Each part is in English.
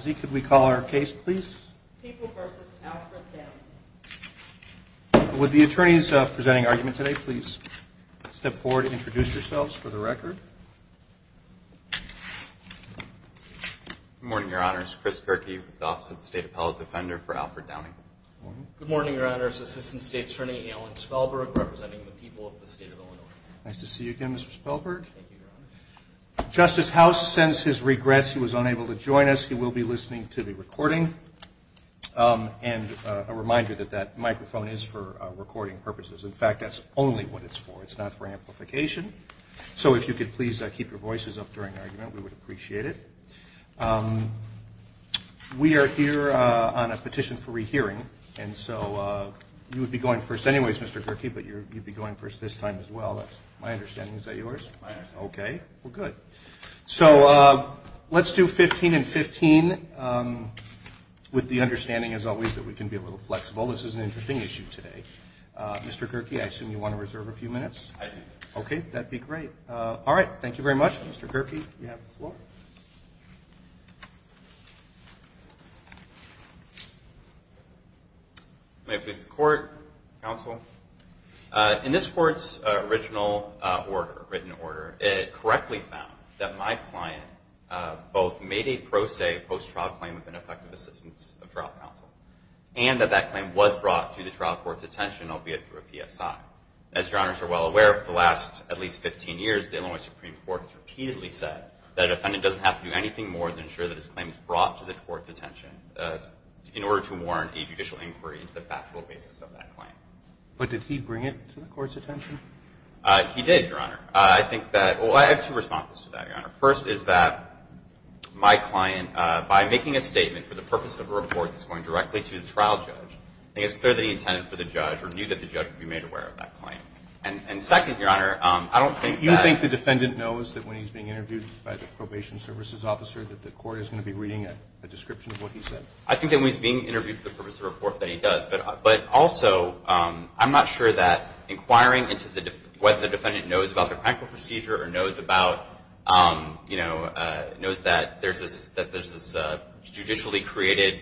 Z, could we call our case, please? People v. Alfred Downing. Would the attorneys presenting argument today please step forward and introduce yourselves for the record? Good morning, Your Honors. Chris Perkey with the Office of the State Appellate Defender for Alfred Downing. Good morning, Your Honors. Assistant State's Attorney Alan Spelberg representing the people of the State of Illinois. Nice to see you again, Mr. Spelberg. Thank you, Your Honors. Justice House sends his regrets. He was unable to join us. He will be listening to the recording. And a reminder that that microphone is for recording purposes. In fact, that's only what it's for. It's not for amplification. So if you could please keep your voices up during argument, we would appreciate it. We are here on a petition for rehearing. And so you would be going first anyways, Mr. Perkey, but you'd be going first this time as well. That's my understanding. Is that yours? Okay. Well, good. So let's do 15 and 15 with the understanding, as always, that we can be a little flexible. This is an interesting issue today. Mr. Perkey, I assume you want to reserve a few minutes? I do. Okay. That'd be great. All right. Thank you very much, Mr. Perkey. You have the floor. May I please the court, counsel? In this court's original order, written order, it correctly found that my client both made a pro se post-trial claim with an effective assistance of trial counsel, and that that claim was brought to the trial court's attention, albeit through a PSI. As your honors are well aware, for the last at least 15 years, the Illinois Supreme Court has repeatedly said that a defendant doesn't have to do anything more than ensure that his claim is brought to the court's attention in order to warrant a judicial inquiry into the factual basis of that claim. But did he bring it to the court's attention? He did, your honor. I think that, well, I have two responses to that, your honor. First is that my client, by making a statement for the purpose of a report that's going directly to the trial judge, I think it's clear that he intended for the judge or knew that the judge would be made aware of that claim. And second, your honor, I don't think that- You think the defendant knows that when he's being interviewed by the probation services officer that the court is going to be reading a description of what he said? I think that when he's being interviewed for the purpose of a report that he does. But also, I'm not sure that inquiring into what the defendant knows about the Krankel procedure or knows that there's this judicially created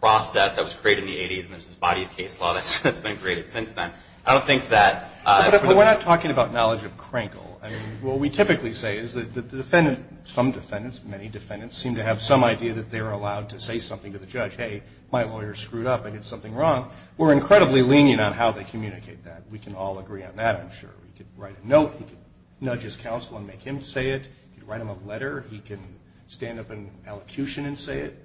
process that was created in the 80s and there's this body of case law that's been created since then. I don't think that- We're not talking about knowledge of Krankel. What we typically say is that the defendant, some defendants, many defendants, seem to have some idea that they're allowed to say something to the judge. Hey, my lawyer screwed up. I did something wrong. We're incredibly lenient on how they communicate that. We can all agree on that, I'm sure. He could write a note. He could nudge his counsel and make him say it. He could write him a letter. He can stand up in allocution and say it.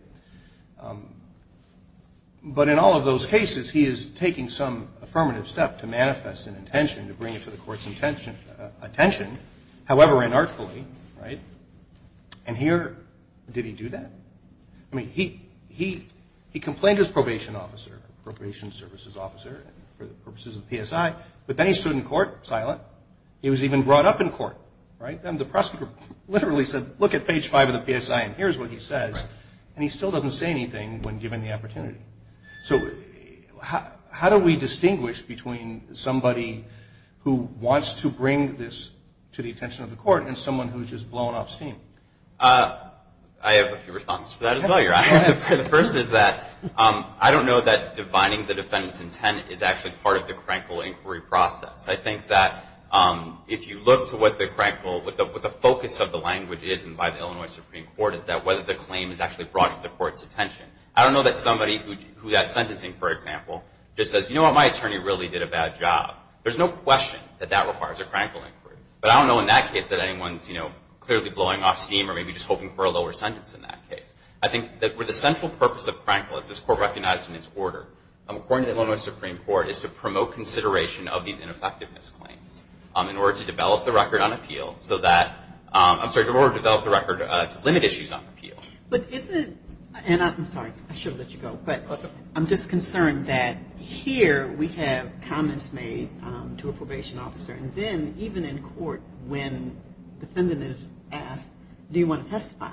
But in all of those cases, he is taking some affirmative step to manifest an intention to bring it to the court's attention, however inartfully, right? And here, did he do that? I mean, he complained to his probation officer, probation services officer, for the purposes of PSI, but then he stood in court silent. He was even brought up in court, right? And the prosecutor literally said, look at page five of the PSI and here's what he says. And he still doesn't say anything when given the opportunity. So how do we distinguish between somebody who wants to bring this to the attention of the court and someone who's just blown off steam? Uh, I have a few responses to that as well, Your Honor. The first is that, um, I don't know that defining the defendant's intent is actually part of the crankle inquiry process. I think that, um, if you look to what the crankle, what the focus of the language is by the Illinois Supreme Court is that whether the claim is actually brought to the court's attention. I don't know that somebody who got sentencing, for example, just says, you know what, my attorney really did a bad job. There's no question that that requires a crankle inquiry. But I don't know in that case that anyone's, you know, clearly blowing off steam or maybe just hoping for a lower sentence in that case. I think that where the central purpose of crankle, as this court recognized in its order, according to the Illinois Supreme Court, is to promote consideration of these ineffectiveness claims, um, in order to develop the record on appeal so that, um, I'm sorry, in order to develop the record, uh, to limit issues on appeal. But isn't, and I'm sorry, I should have let you go, but I'm just concerned that here we have comments made, um, to a probation officer, and then even in court when defendant is asked, do you want to testify? I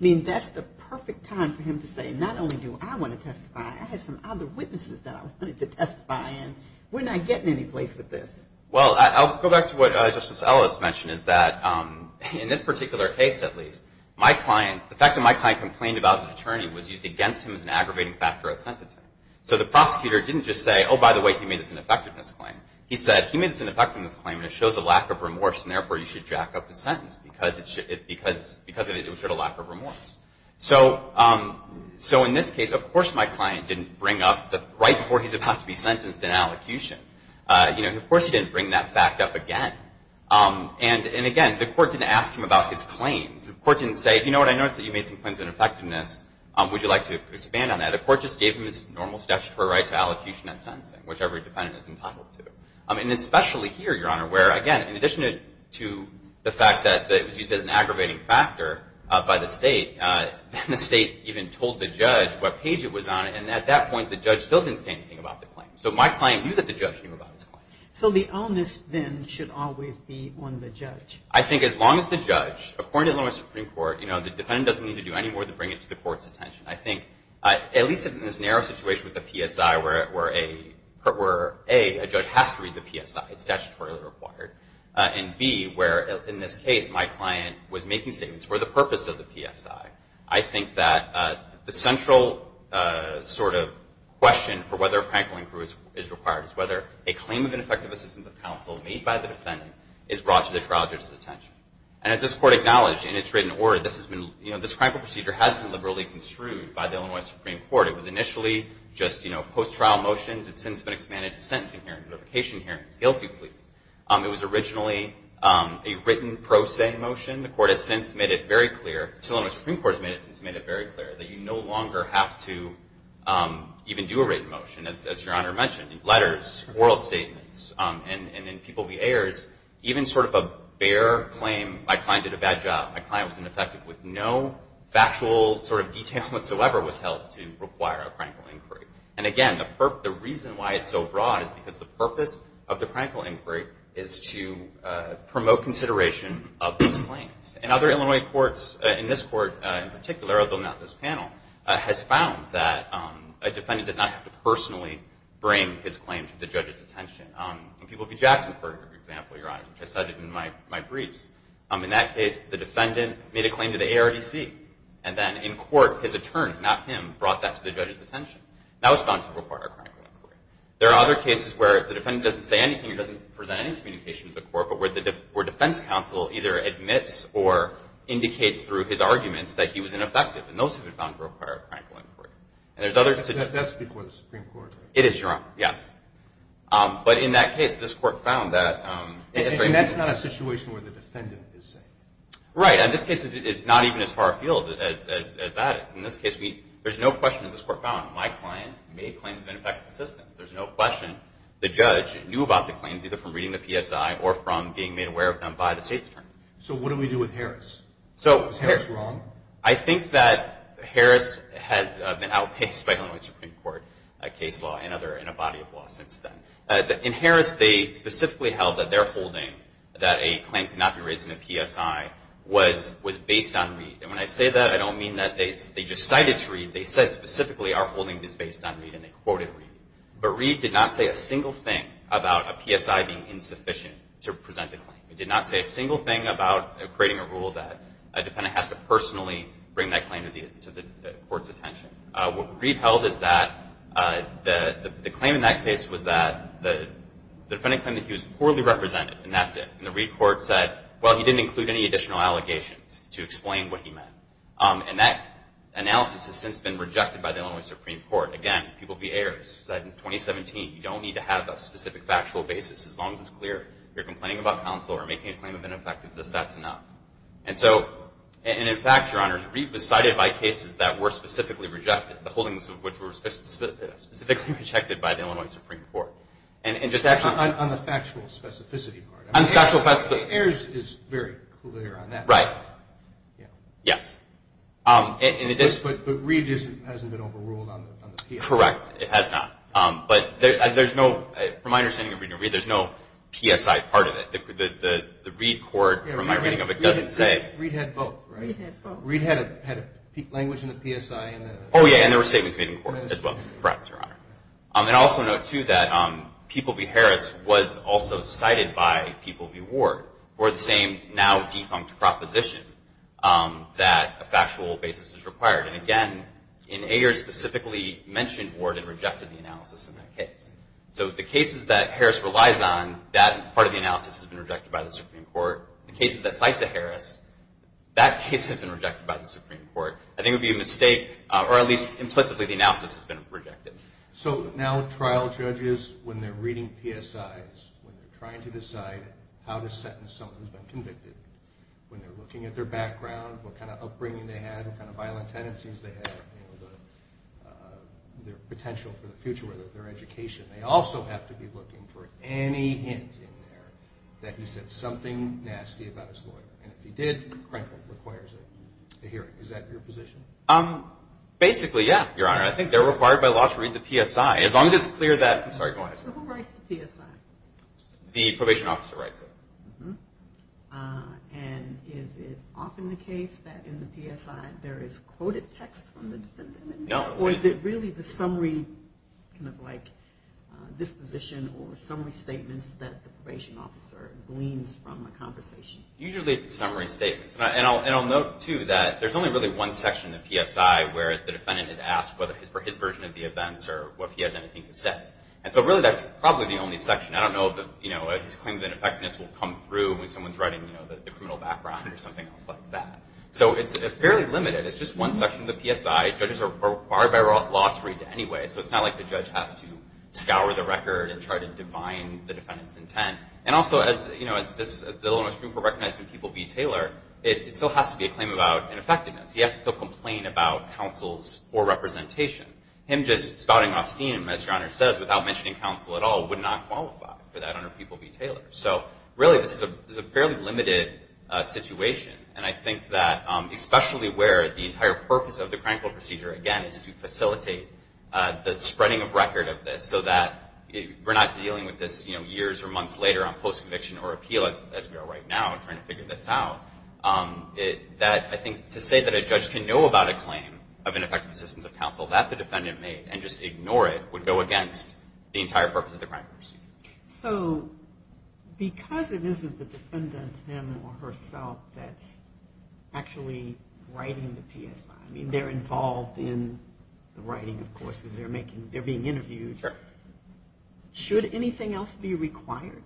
mean, that's the perfect time for him to say, not only do I want to testify, I have some other witnesses that I wanted to testify, and we're not getting any place with this. Well, I'll go back to what, uh, Justice Ellis mentioned, is that, um, in this particular case, at least, my client, the fact that my client complained about his attorney was used against him as an aggravating factor of sentencing. So the prosecutor didn't just say, oh, by the way, he made this ineffectiveness claim. He said, he made this ineffectiveness claim, and it shows a lack of remorse, and therefore, you should jack up the sentence because it should, because, because of it, it showed a lack of remorse. So, um, so in this case, of course my client didn't bring up the, right before he's about to be sentenced an allocution. Uh, you know, of course he didn't bring that fact up again. Um, and, and again, the court didn't ask him about his claims. The court didn't say, you know what, I noticed that you made some claims of ineffectiveness. Um, would you like to expand on that? The court just gave him his normal statutory right to allocution and sentencing, whichever defendant is entitled to. Um, and especially here, Your Honor, where, again, in addition to the fact that it was used as an aggravating factor, uh, by the state, uh, then the state even told the judge what page it was on, and at that point, the judge still didn't say anything about the claim. So my client knew that the judge knew about his claim. So the onus then should always be on the judge. I think as long as the judge, according to the Supreme Court, you know, the defendant doesn't need to do any more than bring it to the court's attention. I think, uh, at least in this narrow situation with the PSI, where, where a, where A, a judge has to read the PSI, it's statutorily required, uh, and B, where, in this case, my client was making statements for the purpose of the PSI, I think that, uh, the central, uh, sort of question for whether a crankling crew is, is required is whether a claim of ineffective assistance of counsel made by the defendant is brought to the trial judge's attention. And as this Court acknowledged in its written order, this has been, you know, this crankle procedure has been liberally construed by the Illinois Supreme Court. It was initially just, you know, post-trial motions. It's since been expanded to sentencing hearings, notification hearings, guilty pleas. Um, it was originally, um, a written pro se motion. The Court has since made it very clear, the Illinois Supreme Court has made it since made it very clear that you no longer have to, um, even do a written motion, as, as Your Honor mentioned, in letters, oral statements, um, and, and in people v. Ayers, even sort of a bare claim, my client did a bad job, my client was ineffective with no factual sort of detail whatsoever was held to require a crankle inquiry. And again, the perp, the reason why it's so broad is because the purpose of the crankle inquiry is to, uh, promote consideration of these claims. And other Illinois courts, uh, in this Court, uh, in particular, although not this panel, uh, has found that, um, a defendant does not have to personally bring his claim to the judge's attention. Um, in people v. Jackson, for example, Your Honor, which I cited in my, my briefs, um, in that case, the defendant made a claim to the ARDC, and then in court, his attorney, not him, brought that to the judge's attention. That was found to require a crankle inquiry. There are other cases where the defendant doesn't say anything, doesn't present any communication to the court, but where the, where defense counsel either admits or indicates through his arguments that he was ineffective. And those have been found to require a crankle inquiry. And there's other situations. But that, that's before the Supreme Court, right? It is, Your Honor. Yes. Um, but in that case, this Court found that, um, it's very important. It's not a situation where the defendant is saying anything. Right. In this case, it's, it's not even as far afield as, as, as that is. In this case, we, there's no question this Court found my client made claims of ineffective assistance. There's no question the judge knew about the claims, either from reading the PSI or from being made aware of them by the state's attorney. So what do we do with Harris? So... Is Harris wrong? I think that Harris has, uh, been outpaced by Illinois Supreme Court, uh, case law and other, and a body of law since then. Uh, in Harris, they specifically held that they're holding that a claim could not be raised in a PSI was, was based on Reed. And when I say that, I don't mean that they, they just cited Reed. They said specifically, our holding is based on Reed, and they quoted Reed. But Reed did not say a single thing about a PSI being insufficient to present a claim. He did not say a single thing about creating a rule that a defendant has to personally bring that claim to the, to the Court's attention. Uh, what Reed held is that, uh, the, the claim in that case was that the, the defendant claimed that he was poorly represented, and that's it. And the Reed court said, well, he didn't include any additional allegations to explain what he meant. Um, and that analysis has since been rejected by the Illinois Supreme Court. Again, people be heirs. In 2017, you don't need to have a specific factual basis. As long as it's clear you're complaining about counsel or making a claim of ineffectiveness, that's enough. And so, and in fact, Your Honors, Reed was cited by cases that were specifically rejected, the holdings of which were specifically, specifically rejected by the Illinois Supreme Court. And, and just on the factual specificity part. On the factual specificity. Heirs is very clear on that. Right. Yeah. Yes. Um, and it is. But, but Reed isn't, hasn't been overruled on the, on the PSI. Correct. It has not. Um, but there, there's no, from my understanding of Reed, there's no PSI part of it. The, the, the Reed court, from my reading of it, doesn't say. Reed had both, right? Reed had both. Reed had a, had a language in the PSI and the... Oh yeah, and there were statements made in court as well. Correct, Your Honor. Um, and I also note too that, um, People v. Harris was also cited by People v. Ward for the same now defunct proposition, um, that a factual basis is required. And again, in Heirs, specifically mentioned Ward and rejected the analysis in that case. So the cases that Harris relies on, that part of the analysis has been rejected by the Supreme Court. The cases that cite to Harris, that case has been rejected by the Supreme Court. I think it would be a mistake, or at least implicitly the analysis has been rejected. So now trial judges, when they're reading PSIs, when they're trying to decide how to sentence someone who's been convicted, when they're looking at their background, what kind of upbringing they had, what kind of violent tendencies they had, you know, their potential for the future of their education, they also have to be looking for any hint in there that he said something nasty about his lawyer. And if he did, Crankville requires a hearing. Is that your position? Um, basically, yeah, Your Honor. I think they're required by law to read the PSI. As long as it's clear that, I'm sorry, go ahead. So who writes the PSI? The probation officer writes it. Uh-huh. Uh, and is it often the case that in the PSI there is quoted text from the defendant? No. Or is it really the summary kind of like disposition or summary statements that the probation officer gleans from the conversation? Usually it's the summary statements. And I'll note, too, that there's only really one section in the PSI where the defendant is asked for his version of the events or if he has anything to say. And so really that's probably the only section. I don't know if the, you know, he's claiming that effectiveness will come through when someone's writing, you know, the criminal background or something else like that. So it's fairly limited. It's just one section of the PSI. Judges are required by law to read it anyway. So it's not like the judge has to scour the record and try to define the defendant's intent. And also as, you know, as this, as the Illinois Supreme Court recognized in People v. Taylor, it still has to be a claim about ineffectiveness. He has to still complain about counsel's poor representation. Him just spouting off stenum, as Your Honor says, without mentioning counsel at all would not qualify for that under People v. Taylor. So really this is a fairly limited situation. And I think that especially where the entire purpose of the Crankville procedure, again, is to facilitate the spreading of record of this so that we're not dealing with this, you know, years or months later on post-conviction or appeal as we are right now trying to figure this out. That I think to say that a judge can know about a claim of ineffective assistance of counsel that the defendant made and just ignore it would go against the entire purpose of the Crankville procedure. So because it isn't the defendant him or herself that's actually writing the PSI, I mean, they're involved in the writing, of course, because they're making, they're being interviewed. Sure. Should anything else be required?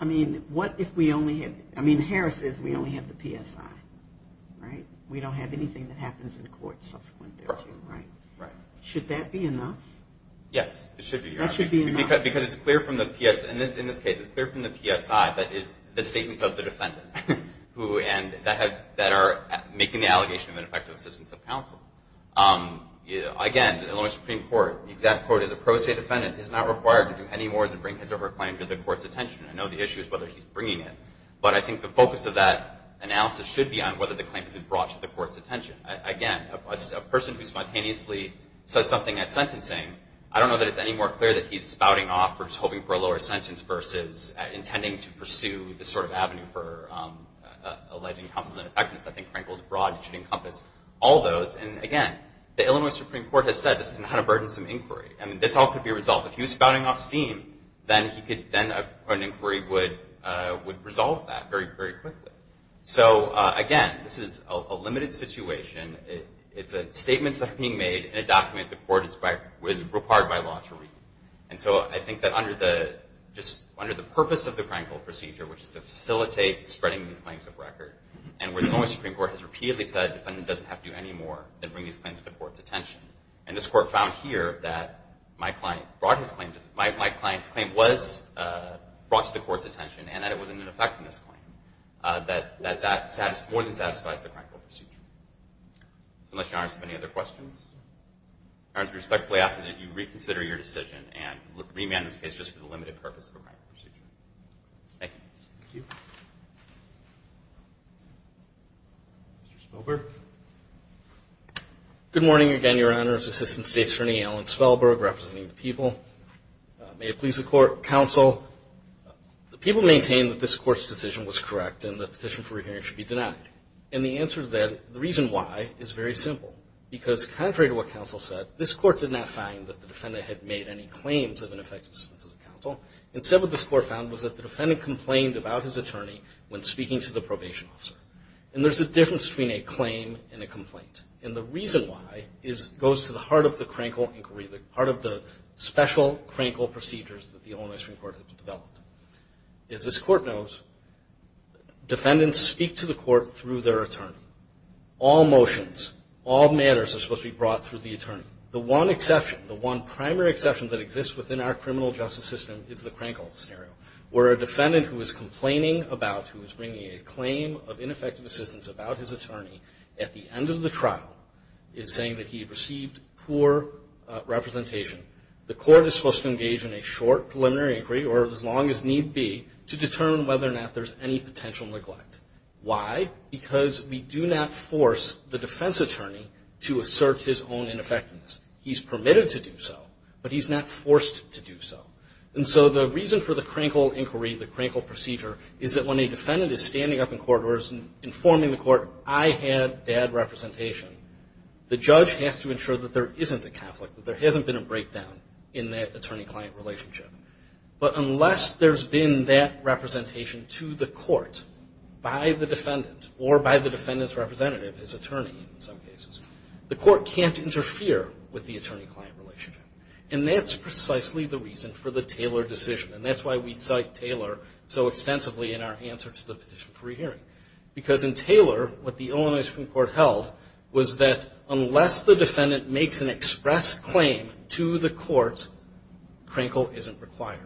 I mean, what if we only had, I mean, Harris says we only have the PSI, right? We don't have anything that happens in court subsequent there too, right? Right. Should that be enough? Yes, it should be, Your Honor. That should be enough. Because it's clear from the PS, in this case, it's clear from the PSI that is the statements of the defendant who and that have, that are making the allegation of ineffective assistance of the defendant is not required to do any more than bring his or her claim to the court's attention. I know the issue is whether he's bringing it. But I think the focus of that analysis should be on whether the claim has been brought to the court's attention. Again, a person who spontaneously says something at sentencing, I don't know that it's any more clear that he's spouting off or just hoping for a lower sentence versus intending to pursue this sort of avenue for alleging counsel's ineffectiveness. I think Crankville is broad. It should encompass all those. And again, the Illinois Supreme Court has said this is not a burdensome inquiry. And this all could be resolved. If he was spouting off steam, then an inquiry would resolve that very, very quickly. So again, this is a limited situation. It's statements that are being made in a document the court is required by law to read. And so I think that under the, just under the purpose of the Crankville procedure, which is to facilitate spreading these claims of record, and where the Illinois Supreme Court has repeatedly said the defendant doesn't have to do any more than bring these claims to the court's attention. And this court found here that my client brought his claim to, my client's claim was brought to the court's attention and that it was an ineffectiveness claim, that that more than satisfies the Crankville procedure. Unless Your Honor has any other questions. Your Honor, I respectfully ask that you reconsider your decision and remand this case just for the limited purpose of a Crankville procedure. Thank you. Thank you. Mr. Spilberg. Good morning again, Your Honor. It's Assistant State's Attorney Alan Spilberg representing the people. May it please the court, counsel. The people maintain that this court's decision was correct and the petition for reviewing it should be denied. And the answer to that, the reason why, is very simple. Because contrary to what counsel said, this court did not find that the defendant had made any claims of ineffectiveness to the counsel. Instead what this court found was that the defendant complained about his attorney when speaking to the probation officer. And there's a difference between a claim and a complaint. And the reason why goes to the heart of the Crankville inquiry, the heart of the special Crankville procedures that the Illinois Supreme Court has developed. As this court knows, defendants speak to the court through their attorney. All motions, all matters are supposed to be brought through the attorney. The one exception, the one primary exception that exists within our criminal justice system is the Crankville scenario. Where a defendant who is complaining about, who is bringing a claim of ineffective assistance about his attorney at the end of the trial is saying that he received poor representation. The court is supposed to engage in a short preliminary inquiry, or as long as need be, to determine whether or not there's any potential neglect. Why? Because we do not force the defense attorney to assert his own ineffectiveness. He's permitted to do so, but he's not forced to do so. And so the reason for the Crankville inquiry, the Crankville procedure, is that when a defendant is standing up in court or is informing the court, I had bad representation, the judge has to ensure that there isn't a conflict, that there hasn't been a breakdown in that attorney-client relationship. But unless there's been that representation to the court by the defendant or by the defendant's representative, his attorney in some cases, the court can't interfere with the attorney-client relationship. And that's precisely the reason for the Taylor decision. And that's why we cite Taylor so extensively in our answer to the petition for re-hearing. Because in Taylor, what the Illinois Supreme Court held was that unless the defendant makes an express claim to the court, Crankville isn't required.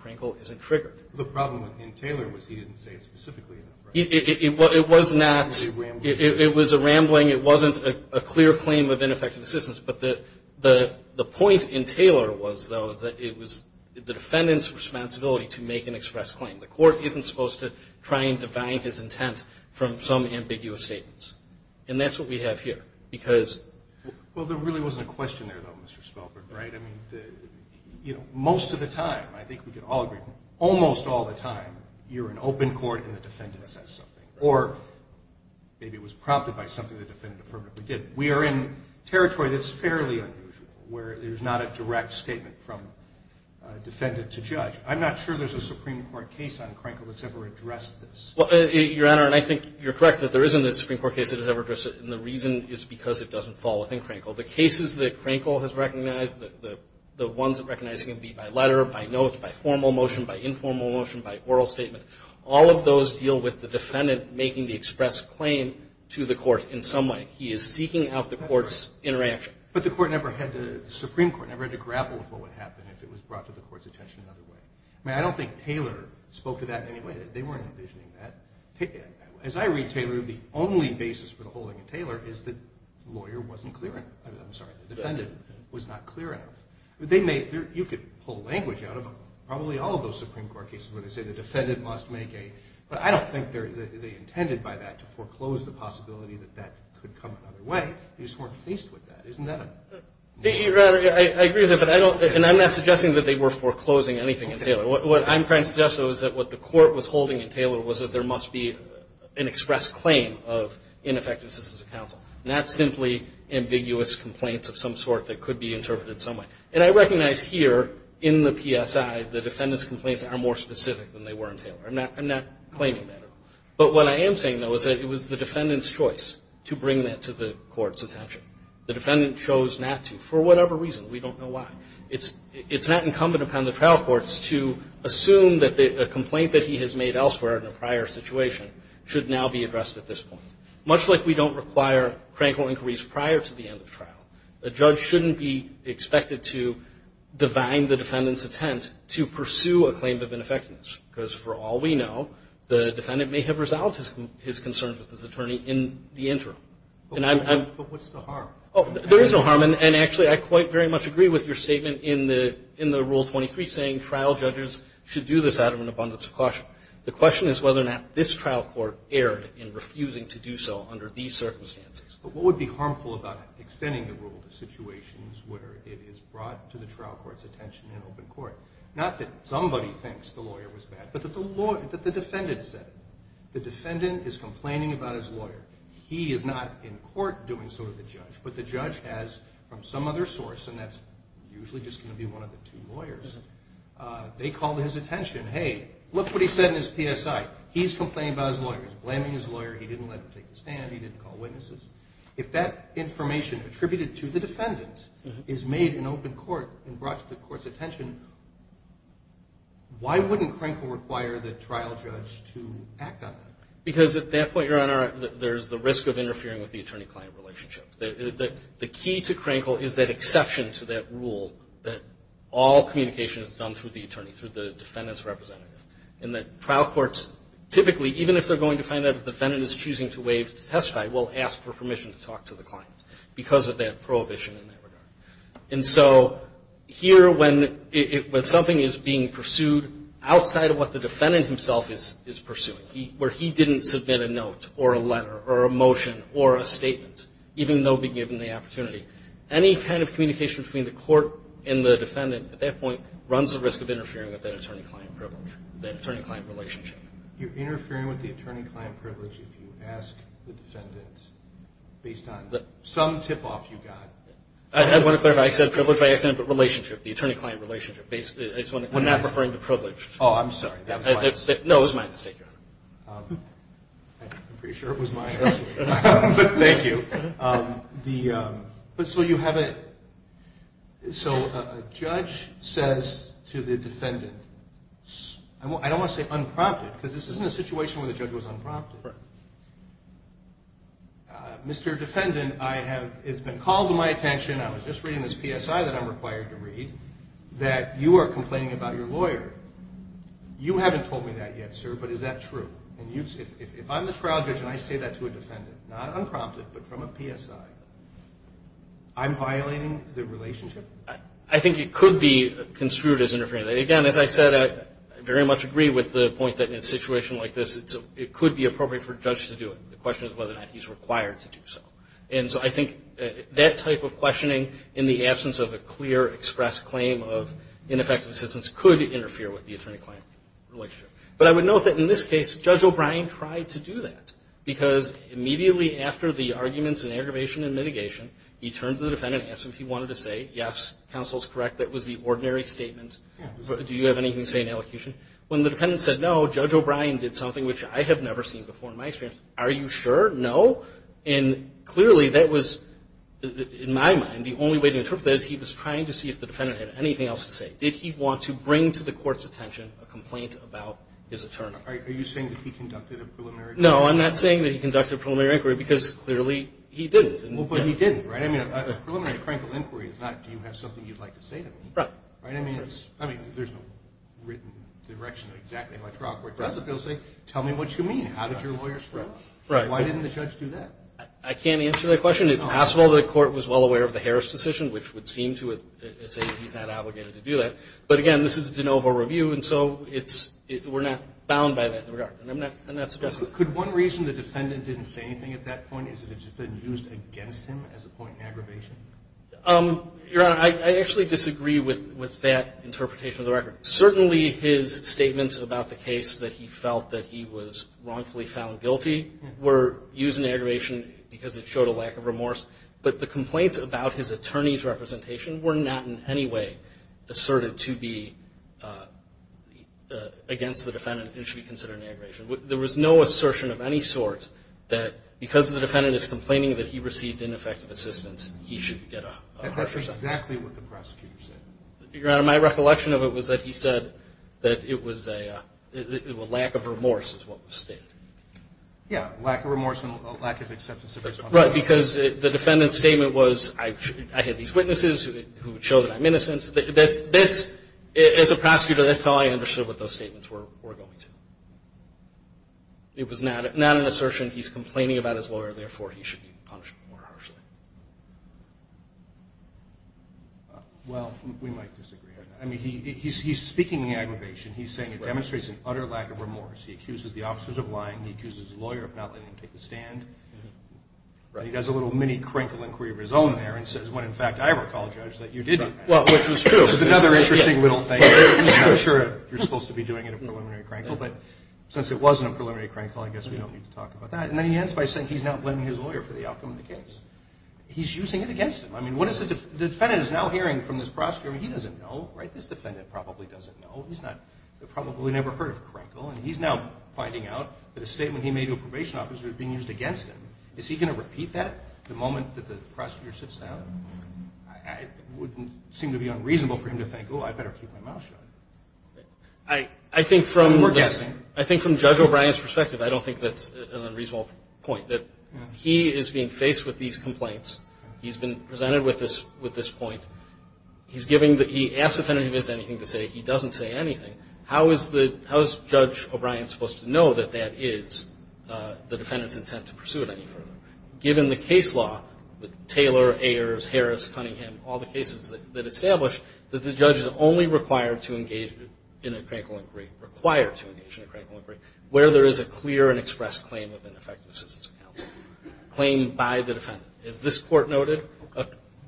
Crankville isn't triggered. The problem in Taylor was he didn't say it specifically enough. It was not, it was a rambling, it wasn't a clear claim of ineffective assistance, but the point in Taylor was, though, that it was the defendant's responsibility to make an express claim. The court isn't supposed to try and divide his intent from some ambiguous statements. And that's what we have here. Well, there really wasn't a question there, though, Mr. Spelberg, right? I mean, you know, most of the time, I think we can all agree, almost all the time, you're in open court and the defendant says something. Or maybe it was prompted by something the defendant affirmatively did. We are in territory that's fairly unusual, where there's not a direct statement from defendant to judge. I'm not sure there's a Supreme Court case on Crankville that's ever addressed this. Well, Your Honor, and I think you're correct that there isn't a Supreme Court case that has ever addressed it, and the reason is because it doesn't fall within Crankville. The cases that Crankville has recognized, the ones it recognizes can be by letter, by note, by formal motion, by informal motion, by oral statement, all of those deal with the defendant making the express claim to the court in some way. He is seeking out the court's interaction. But the Supreme Court never had to grapple with what would happen if it was brought to the court's attention another way. I mean, I don't think Taylor spoke to that in any way. They weren't envisioning that. As I read Taylor, the only basis for the holding of Taylor is that the lawyer wasn't clear enough. I'm sorry, the defendant was not clear enough. You could pull language out of probably all of those Supreme Court cases where they say the defendant must make a But I don't think they intended by that to foreclose the possibility that that could come another way. They just weren't faced with that. Isn't that a? Your Honor, I agree with that, but I don't, and I'm not suggesting that they were foreclosing anything in Taylor. What I'm trying to suggest, though, is that what the court was holding in Taylor was that there must be an express claim of ineffective assistance of counsel, not simply ambiguous complaints of some sort that could be interpreted some way. And I recognize here in the PSI the defendant's complaints are more specific than they were in Taylor. I'm not claiming that at all. But what I am saying, though, is that it was the defendant's choice to bring that to the court's attention. The defendant chose not to for whatever reason. We don't know why. It's not incumbent upon the trial courts to assume that a complaint that he has made elsewhere in a prior situation should now be addressed at this point. Much like we don't require crankle inquiries prior to the end of trial, a judge shouldn't be expected to divine the defendant's intent to pursue a claim of ineffectiveness because, for all we know, the defendant may have resolved his concerns with his attorney in the interim. But what's the harm? There is no harm. And actually, I quite very much agree with your statement in the Rule 23 saying trial judges should do this out of an abundance of caution. The question is whether or not this trial court erred in refusing to do so under these circumstances. But what would be harmful about extending the rule to situations where it is brought to the trial court's attention in open court? Not that somebody thinks the lawyer was bad, but that the defendant said it. The defendant is complaining about his lawyer. He is not in court doing so to the judge, but the judge has, from some other source, and that's usually just going to be one of the two lawyers, they called his attention. Hey, look what he said in his PSI. He's complaining about his lawyer. He's blaming his lawyer. He didn't let him take the stand. He didn't call witnesses. If that information attributed to the defendant is made in open court and brought to the court's attention, why wouldn't Crankle require the trial judge to act on that? Because at that point, Your Honor, there's the risk of interfering with the attorney-client relationship. The key to Crankle is that exception to that rule that all communication is done through the attorney, through the defendant's representative, and that trial courts typically, even if they're going to find out if the defendant is choosing to testify, will ask for permission to talk to the client because of that prohibition in that regard. And so here, when something is being pursued outside of what the defendant himself is pursuing, where he didn't submit a note or a letter or a motion or a statement, even though be given the opportunity, any kind of communication between the court and the defendant at that point runs the risk of interfering with that attorney-client privilege, that attorney-client relationship. You're interfering with the attorney-client privilege if you ask the defendant based on some tip-off you got. I want to clarify. I said privilege, but I said relationship, the attorney-client relationship. We're not referring to privilege. Oh, I'm sorry. That was my mistake. No, it was my mistake, Your Honor. I'm pretty sure it was my mistake. Thank you. But so you have a – so a judge says to the defendant – I don't want to say unprompted, because this isn't a situation where the judge was unprompted. Right. Mr. Defendant, I have – it's been called to my attention, I was just reading this PSI that I'm required to read, that you are complaining about your lawyer. You haven't told me that yet, sir, but is that true? And if I'm the trial judge and I say that to a defendant, not unprompted, but from a PSI, I'm violating the relationship? I think it could be construed as interfering. Again, as I said, I very much agree with the point that in a situation like this, it could be appropriate for a judge to do it. The question is whether or not he's required to do so. And so I think that type of questioning in the absence of a clear, expressed claim of ineffective assistance could interfere with the attorney-client relationship. But I would note that in this case, Judge O'Brien tried to do that, because immediately after the arguments in aggravation and mitigation, he turned to the defendant and asked if he wanted to say yes, counsel's correct, that was the ordinary statement. Do you have anything to say in elocution? When the defendant said no, Judge O'Brien did something which I have never seen before in my experience. Are you sure? No? And clearly that was, in my mind, the only way to interpret that is he was trying to see if the defendant had anything else to say. Did he want to bring to the court's attention a complaint about his attorney? Are you saying that he conducted a preliminary inquiry? No, I'm not saying that he conducted a preliminary inquiry, because clearly he didn't. Well, but he didn't, right? I mean, a preliminary, critical inquiry is not do you have something you'd like to say to me. Right. Right? I mean, there's no written direction of exactly how a trial court does it. They'll say, tell me what you mean. How did your lawyer strike? Right. Why didn't the judge do that? I can't answer that question. If, first of all, the court was well aware of the Harris decision, which would seem to say that he's not obligated to do that. But, again, this is a de novo review, and so we're not bound by that. And I'm not suggesting that. Could one reason the defendant didn't say anything at that point is that it's been used against him as a point in aggravation? Your Honor, I actually disagree with that interpretation of the record. Certainly his statements about the case that he felt that he was wrongfully found guilty were used in aggravation because it showed a lack of remorse. But the complaints about his attorney's representation were not in any way asserted to be against the defendant and should be considered an aggravation. There was no assertion of any sort that because the defendant is complaining that he received ineffective assistance, he should get a harsher sentence. That's exactly what the prosecutor said. Your Honor, my recollection of it was that he said that it was a lack of remorse is what was stated. Yeah, lack of remorse and lack of acceptance of responsibility. Right, because the defendant's statement was I had these witnesses who would show that I'm innocent. As a prosecutor, that's all I understood what those statements were going to. It was not an assertion he's complaining about his lawyer, therefore he should be punished more harshly. Well, we might disagree on that. I mean, he's speaking in aggravation. He's saying it demonstrates an utter lack of remorse. He accuses the officers of lying. He accuses the lawyer of not letting him take the stand. He does a little mini-crankle inquiry of his own there and says, when in fact I have apologized that you didn't. Well, which was true. Which is another interesting little thing. I'm sure you're supposed to be doing it in a preliminary crankle, but since it wasn't a preliminary crankle, I guess we don't need to talk about that. And then he ends by saying he's not blaming his lawyer for the outcome of the case. He's using it against him. I mean, what is the defendant is now hearing from this prosecutor? I mean, he doesn't know, right? This defendant probably doesn't know. He's probably never heard of crankle. And he's now finding out that a statement he made to a probation officer is being used against him. Is he going to repeat that the moment that the prosecutor sits down? It would seem to be unreasonable for him to think, oh, I better keep my mouth shut. I think from Judge O'Brien's perspective, I don't think that's an unreasonable point, that he is being faced with these complaints. He's been presented with this point. He's giving the – he asks the defendant if he has anything to say. He doesn't say anything. How is the – how is Judge O'Brien supposed to know that that is the defendant's intent to pursue it any further? Given the case law, Taylor, Ayers, Harris, Cunningham, all the cases that establish that the judge is only required to engage in a crankle inquiry, required to engage in a crankle inquiry, where there is a clear and expressed claim of ineffective assistance of counsel, claim by the defendant. As this Court noted,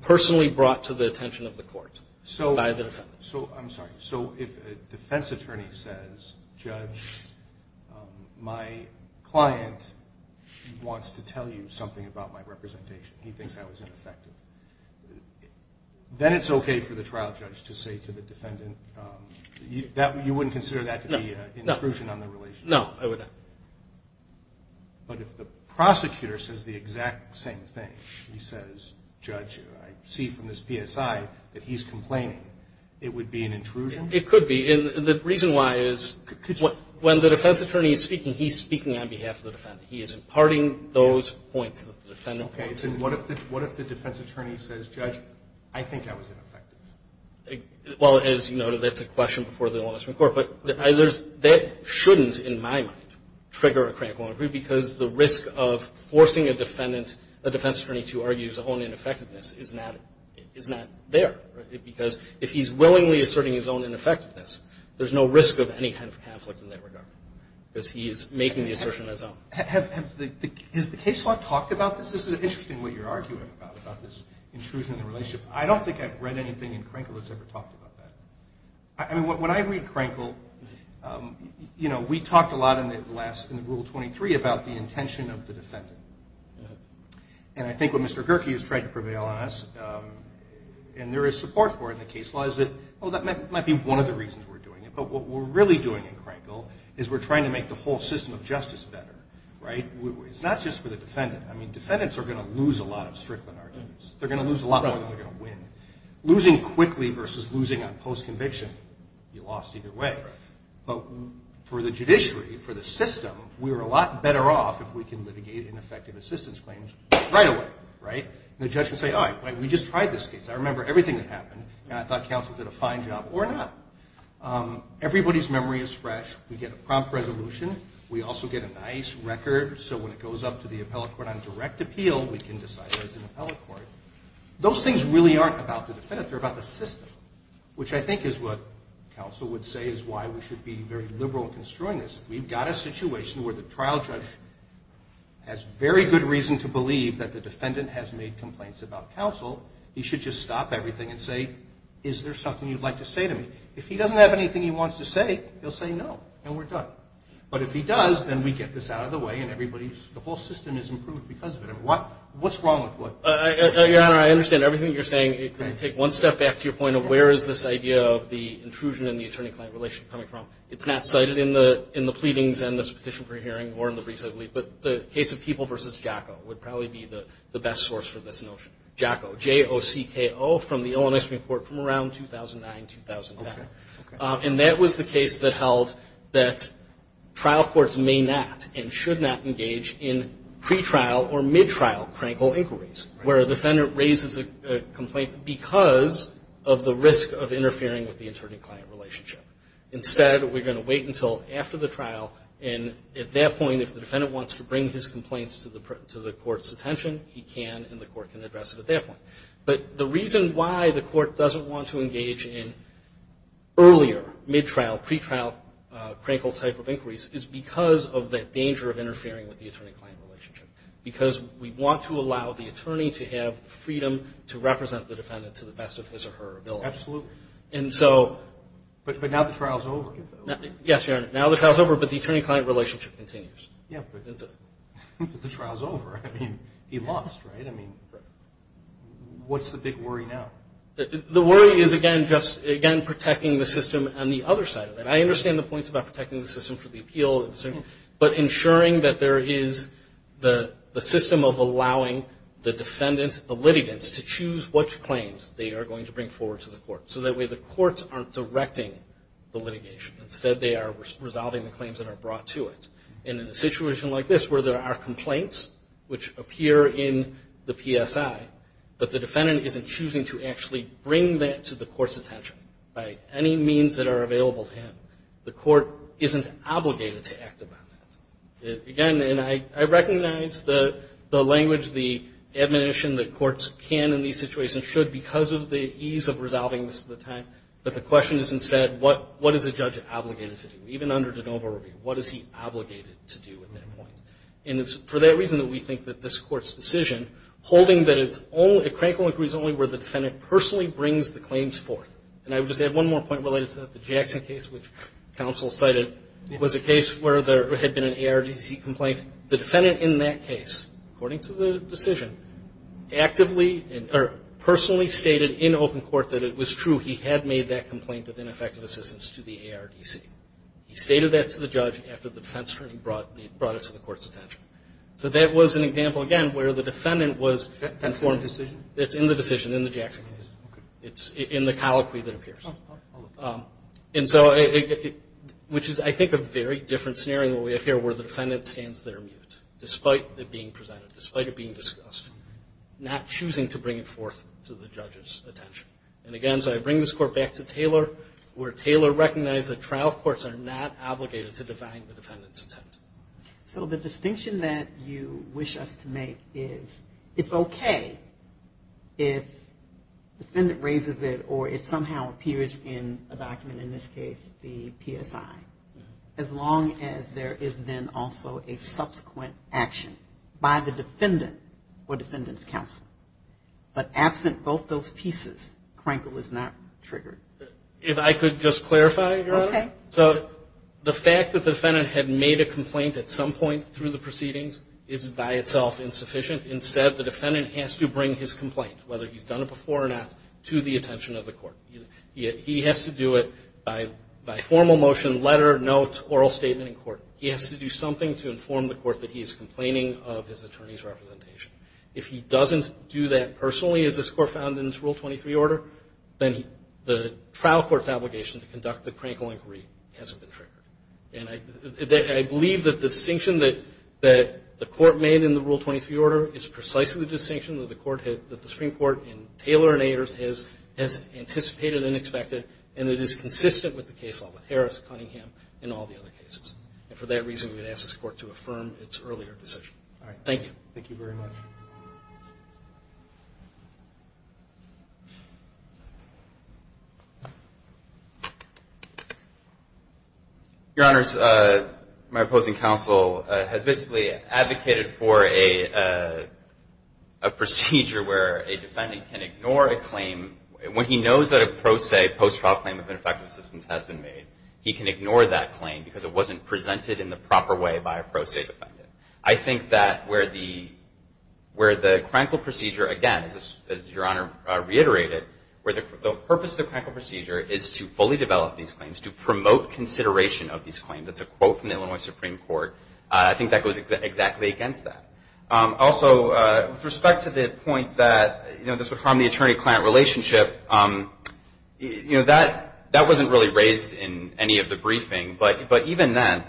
personally brought to the attention of the Court by the defendant. So I'm sorry. So if a defense attorney says, Judge, my client wants to tell you something about my representation, he thinks I was ineffective, then it's okay for the trial judge to say to the defendant – you wouldn't consider that to be an intrusion on the relationship? No, I wouldn't. But if the prosecutor says the exact same thing, he says, Judge, I see from this PSI that he's complaining, it would be an intrusion? It could be. And the reason why is when the defense attorney is speaking, he's speaking on behalf of the defendant. He is imparting those points that the defendant points out. Okay. So what if the defense attorney says, Judge, I think I was ineffective? Well, as you noted, that's a question before the Ombudsman Court. But that shouldn't, in my mind, trigger a crankle inquiry, because the risk of forcing a defendant, a defense attorney, to argue his own ineffectiveness is not there. Because if he's willingly asserting his own ineffectiveness, there's no risk of any kind of conflict in that regard, because he is making the assertion on his own. Has the case law talked about this? This is interesting what you're arguing about, about this intrusion on the relationship. I don't think I've read anything in Crankle that's ever talked about that. I mean, when I read Crankle, you know, we talked a lot in the rule 23 about the intention of the defendant. And I think what Mr. Gerke has tried to prevail on us, and there is support for it in the case law, is that, oh, that might be one of the reasons we're doing it. But what we're really doing in Crankle is we're trying to make the whole system of justice better, right? It's not just for the defendant. I mean, defendants are going to lose a lot of strickland arguments. They're going to lose a lot more than they're going to win. Losing quickly versus losing on post-conviction, you lost either way. But for the judiciary, for the system, we're a lot better off if we can litigate ineffective assistance claims right away, right? And the judge can say, all right, we just tried this case. I remember everything that happened, and I thought counsel did a fine job, or not. Everybody's memory is fresh. We get a prompt resolution. We also get a nice record, so when it goes up to the appellate court on direct appeal, we can decide there's an appellate court. Those things really aren't about the defendant. They're about the system, which I think is what counsel would say is why we should be very liberal in construing this. If we've got a situation where the trial judge has very good reason to believe that the defendant has made complaints about counsel, he should just stop everything and say, is there something you'd like to say to me? If he doesn't have anything he wants to say, he'll say no, and we're done. But if he does, then we get this out of the way, and the whole system is improved because of it. What's wrong with what? Your Honor, I understand everything you're saying. Take one step back to your point of where is this idea of the intrusion in the attorney-client relation coming from. It's not cited in the pleadings and this petition we're hearing or in the briefs that we've read, but the case of People v. Jaco would probably be the best source for this notion. Jaco, J-O-C-K-O, from the Illinois Supreme Court from around 2009, 2010. Okay. And that was the case that held that trial courts may not and should not engage in pretrial or midtrial crankle inquiries. Where a defendant raises a complaint because of the risk of interfering with the attorney-client relationship. Instead, we're going to wait until after the trial, and at that point, if the defendant wants to bring his complaints to the court's attention, he can, and the court can address it at that point. But the reason why the court doesn't want to engage in earlier, midtrial, pretrial, crankle type of inquiries is because of that danger of interfering with the attorney-client relationship. Because we want to allow the attorney to have freedom to represent the defendant to the best of his or her ability. Absolutely. And so. But now the trial's over. Yes, Your Honor. Now the trial's over, but the attorney-client relationship continues. Yeah, but the trial's over. I mean, he lost, right? I mean, what's the big worry now? The worry is, again, just, again, protecting the system on the other side of that. I understand the points about protecting the system for the appeal, but ensuring that there is the system of allowing the defendant, the litigants, to choose which claims they are going to bring forward to the court. So that way the courts aren't directing the litigation. Instead, they are resolving the claims that are brought to it. And in a situation like this where there are complaints which appear in the PSI, but the defendant isn't choosing to actually bring that to the court's attention by any means that are available to him, the court isn't obligated to act upon that. Again, and I recognize the language, the admonition that courts can in these situations, should because of the ease of resolving this at the time. But the question is, instead, what is a judge obligated to do? Even under de novo review, what is he obligated to do at that point? And it's for that reason that we think that this Court's decision, holding that it's only a crankle-and-crease only where the defendant personally brings the claims forth. And I would just add one more point related to that. The Jackson case which counsel cited was a case where there had been an ARDC complaint. The defendant in that case, according to the decision, actively or personally stated in open court that it was true. He had made that complaint of ineffective assistance to the ARDC. He stated that to the judge after the defense attorney brought it to the court's attention. So that was an example, again, where the defendant was informed. That's in the decision, in the Jackson case. It's in the colloquy that appears. And so, which is, I think, a very different scenario than what we have here where the defendant stands there mute, despite it being presented, despite it being discussed, not choosing to bring it forth to the judge's attention. And again, so I bring this Court back to Taylor, where Taylor recognized that trial courts are not obligated to define the defendant's intent. So the distinction that you wish us to make is it's okay if the defendant raises it or it somehow appears in a document, in this case the PSI, as long as there is then also a subsequent action by the defendant or defendant's counsel. But absent both those pieces, Crankle is not triggered. If I could just clarify, Your Honor. Okay. So the fact that the defendant had made a complaint at some point through the proceedings is by itself insufficient. Instead, the defendant has to bring his complaint, whether he's done it before or not, to the attention of the court. He has to do it by formal motion, letter, note, oral statement in court. He has to do something to inform the court that he is complaining of his attorney's representation. If he doesn't do that personally, as this Court found in its Rule 23 order, then the trial court's obligation to conduct the Crankle inquiry hasn't been triggered. And I believe that the distinction that the court made in the Rule 23 order is precisely the distinction that the Supreme Court in Taylor and Ayers has anticipated and expected and that is consistent with the case law with Harris, Cunningham, and all the other cases. And for that reason, we would ask this Court to affirm its earlier decision. All right. Thank you. Thank you very much. Your Honors, my opposing counsel has basically advocated for a procedure where a defendant can ignore a claim when he knows that a pro se post-trial claim of ineffective assistance has been made. He can ignore that claim because it wasn't presented in the proper way by a pro se defendant. Where the Crankle procedure, again, as Your Honor reiterated, where the purpose of the Crankle procedure is to fully develop these claims, to promote consideration of these claims. That's a quote from the Illinois Supreme Court. I think that goes exactly against that. Also, with respect to the point that, you know, this would harm the attorney-client relationship, you know, that wasn't really raised in any of the briefing. But even then,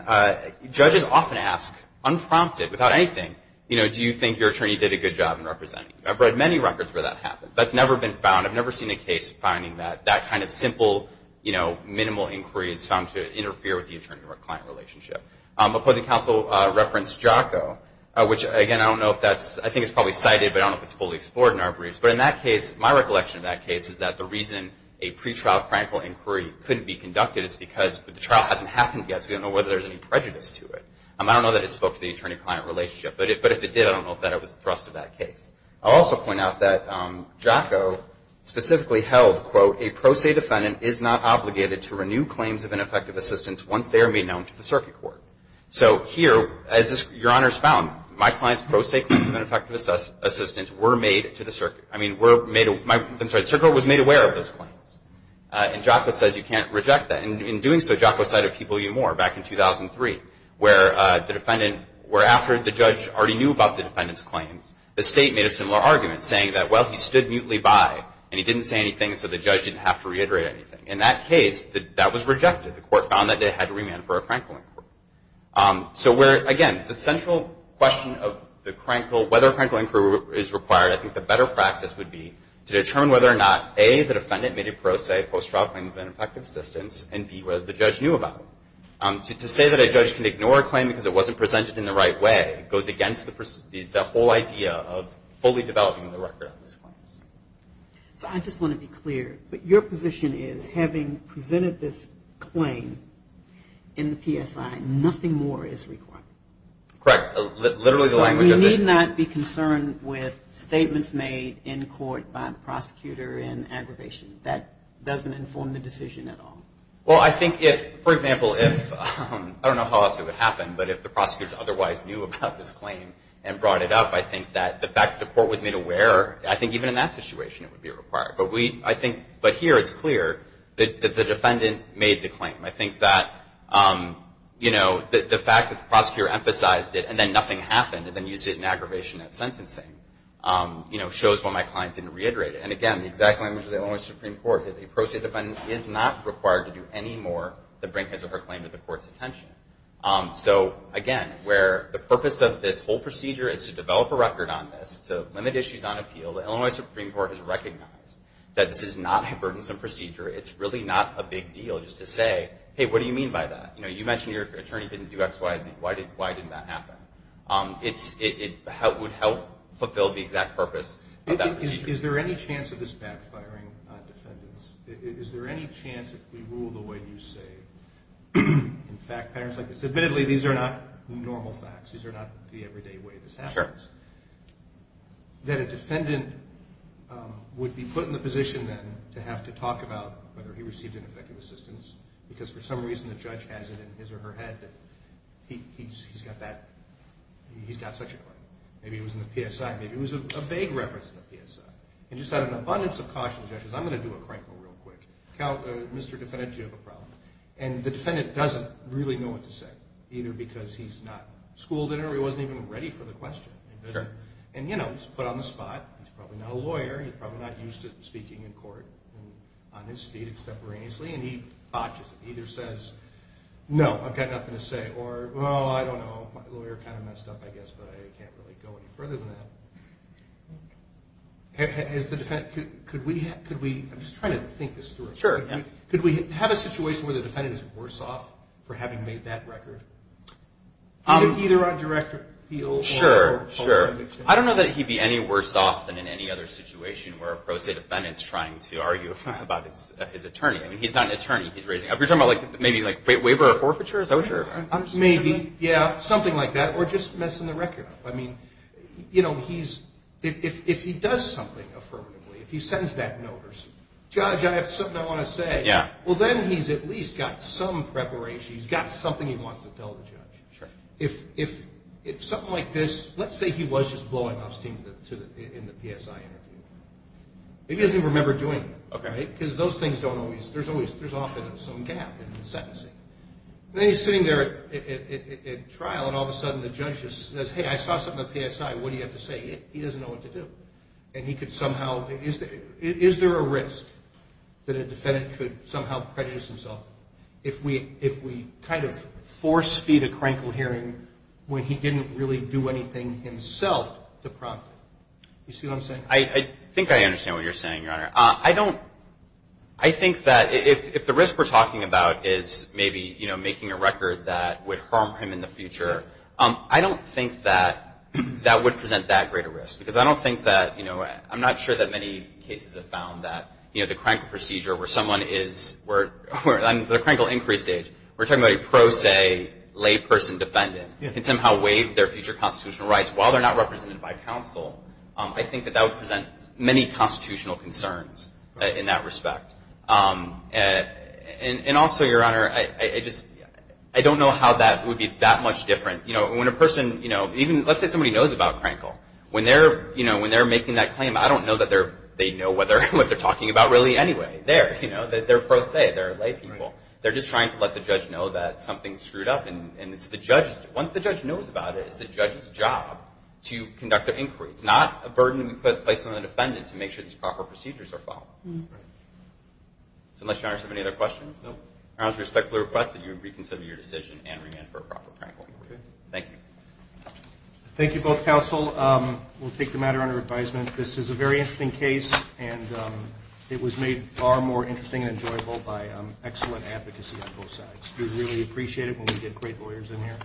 judges often ask, unprompted, without anything, you know, do you think your attorney did a good job in representing you? I've read many records where that happens. That's never been found. I've never seen a case finding that that kind of simple, you know, minimal inquiry is found to interfere with the attorney-client relationship. Opposing counsel referenced JACO, which, again, I don't know if that's, I think it's probably cited, but I don't know if it's fully explored in our briefs. But in that case, my recollection of that case is that the reason a pretrial Crankle inquiry couldn't be conducted is because the trial hasn't happened yet, so we don't know whether there's any prejudice to it. I don't know that it spoke to the attorney-client relationship. But if it did, I don't know if that was the thrust of that case. I'll also point out that JACO specifically held, quote, a pro se defendant is not obligated to renew claims of ineffective assistance once they are made known to the circuit court. So here, as Your Honors found, my client's pro se claims of ineffective assistance were made to the circuit. I mean, were made, I'm sorry, the circuit court was made aware of those claims. And JACO says you can't reject that. And in doing so, JACO cited People v. Moore back in 2003, where the defendant, where after the judge already knew about the defendant's claims, the state made a similar argument saying that, well, he stood mutely by and he didn't say anything, so the judge didn't have to reiterate anything. In that case, that was rejected. The court found that they had to remand for a Crankle inquiry. So where, again, the central question of the Crankle, whether a Crankle inquiry is required, I think the better practice would be to determine whether or not, A, the defendant made a pro se post-trial claim of ineffective assistance, and B, whether the judge knew about it. To say that a judge can ignore a claim because it wasn't presented in the right way goes against the whole idea of fully developing the record of these claims. So I just want to be clear. But your position is having presented this claim in the PSI, nothing more is required. Correct. Literally the language of this. You need not be concerned with statements made in court by the prosecutor in aggravation. That doesn't inform the decision at all. Well, I think if, for example, if, I don't know how else it would happen, but if the prosecutors otherwise knew about this claim and brought it up, I think that the fact that the court was made aware, I think even in that situation it would be required. But we, I think, but here it's clear that the defendant made the claim. I think that, you know, the fact that the prosecutor emphasized it and then nothing happened and then used it in aggravation at sentencing, you know, shows why my client didn't reiterate it. And, again, the exact language of the Illinois Supreme Court is that the pro-state defendant is not required to do any more than bring his or her claim to the court's attention. So, again, where the purpose of this whole procedure is to develop a record on this, to limit issues on appeal, the Illinois Supreme Court has recognized that this is not a burdensome procedure. It's really not a big deal just to say, hey, what do you mean by that? You know, you mentioned your attorney didn't do XYZ. Why didn't that happen? It would help fulfill the exact purpose of that procedure. Is there any chance of this backfiring on defendants? Is there any chance if we rule the way you say in fact patterns like this? Admittedly, these are not normal facts. These are not the everyday way this happens. Sure. That a defendant would be put in the position then to have to talk about whether he received an effective assistance because for some reason the judge has it in his or her head that he's got that, he's got such a claim. Maybe it was in the PSI. Maybe it was a vague reference in the PSI. And just out of an abundance of caution, the judge says, I'm going to do a CRICO real quick. Mr. Defendant, do you have a problem? And the defendant doesn't really know what to say, either because he's not schooled in it or he wasn't even ready for the question. And, you know, he's put on the spot. He's probably not a lawyer. He's probably not used to speaking in court on his feet extemporaneously. And he botches it, either says, no, I've got nothing to say, or, well, I don't know, my lawyer kind of messed up, I guess, but I can't really go any further than that. Has the defendant – could we – I'm just trying to think this through. Sure. Could we have a situation where the defendant is worse off for having made that record? Either on direct appeal or – Sure, sure. I don't know that he'd be any worse off than in any other situation where a pro se defendant is trying to argue about his attorney. I mean, he's not an attorney. He's raising – are we talking about maybe like waiver of forfeiture? Is that what you're – Maybe, yeah, something like that. Or just messing the record up. I mean, you know, he's – if he does something affirmatively, if he sends that notice, judge, I have something I want to say. Yeah. Well, then he's at least got some preparation. He's got something he wants to tell the judge. Sure. If something like this – let's say he was just blowing off steam in the PSI interview. Maybe he doesn't even remember doing it. Okay. Because those things don't always – there's always – there's often some gap in the sentencing. Then he's sitting there at trial, and all of a sudden the judge just says, hey, I saw something in the PSI. What do you have to say? He doesn't know what to do. And he could somehow – is there a risk that a defendant could somehow prejudice himself if we kind of force feed a crankle hearing when he didn't really do anything himself to prompt it? You see what I'm saying? I think I understand what you're saying, Your Honor. I don't – I think that if the risk we're talking about is maybe making a record that would harm him in the future, I don't think that that would present that great a risk, because I don't think that – I'm not sure that many cases have found that the crankle procedure where someone is – on the crankle increase stage, we're talking about a pro se layperson defendant can somehow waive their future constitutional rights while they're not represented by counsel. I think that that would present many constitutional concerns in that respect. And also, Your Honor, I just – I don't know how that would be that much different. When a person – even let's say somebody knows about crankle. When they're making that claim, I don't know that they know what they're talking about really anyway. They're pro se. They're laypeople. They're just trying to let the judge know that something's screwed up, and it's the judge's – once the judge knows about it, it's the judge's job to conduct an inquiry. It's not a burden to be placed on the defendant to make sure these proper procedures are followed. So unless Your Honor has any other questions. No. Your Honor, I respectfully request that you reconsider your decision and remand for a proper crankle. Okay. Thank you. Thank you both, counsel. We'll take the matter under advisement. This is a very interesting case, and it was made far more interesting and enjoyable by excellent advocacy on both sides. We really appreciate it, and we did great lawyers in here,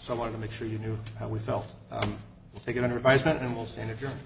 so I wanted to make sure you knew how we felt. We'll take it under advisement, and we'll stand adjourned.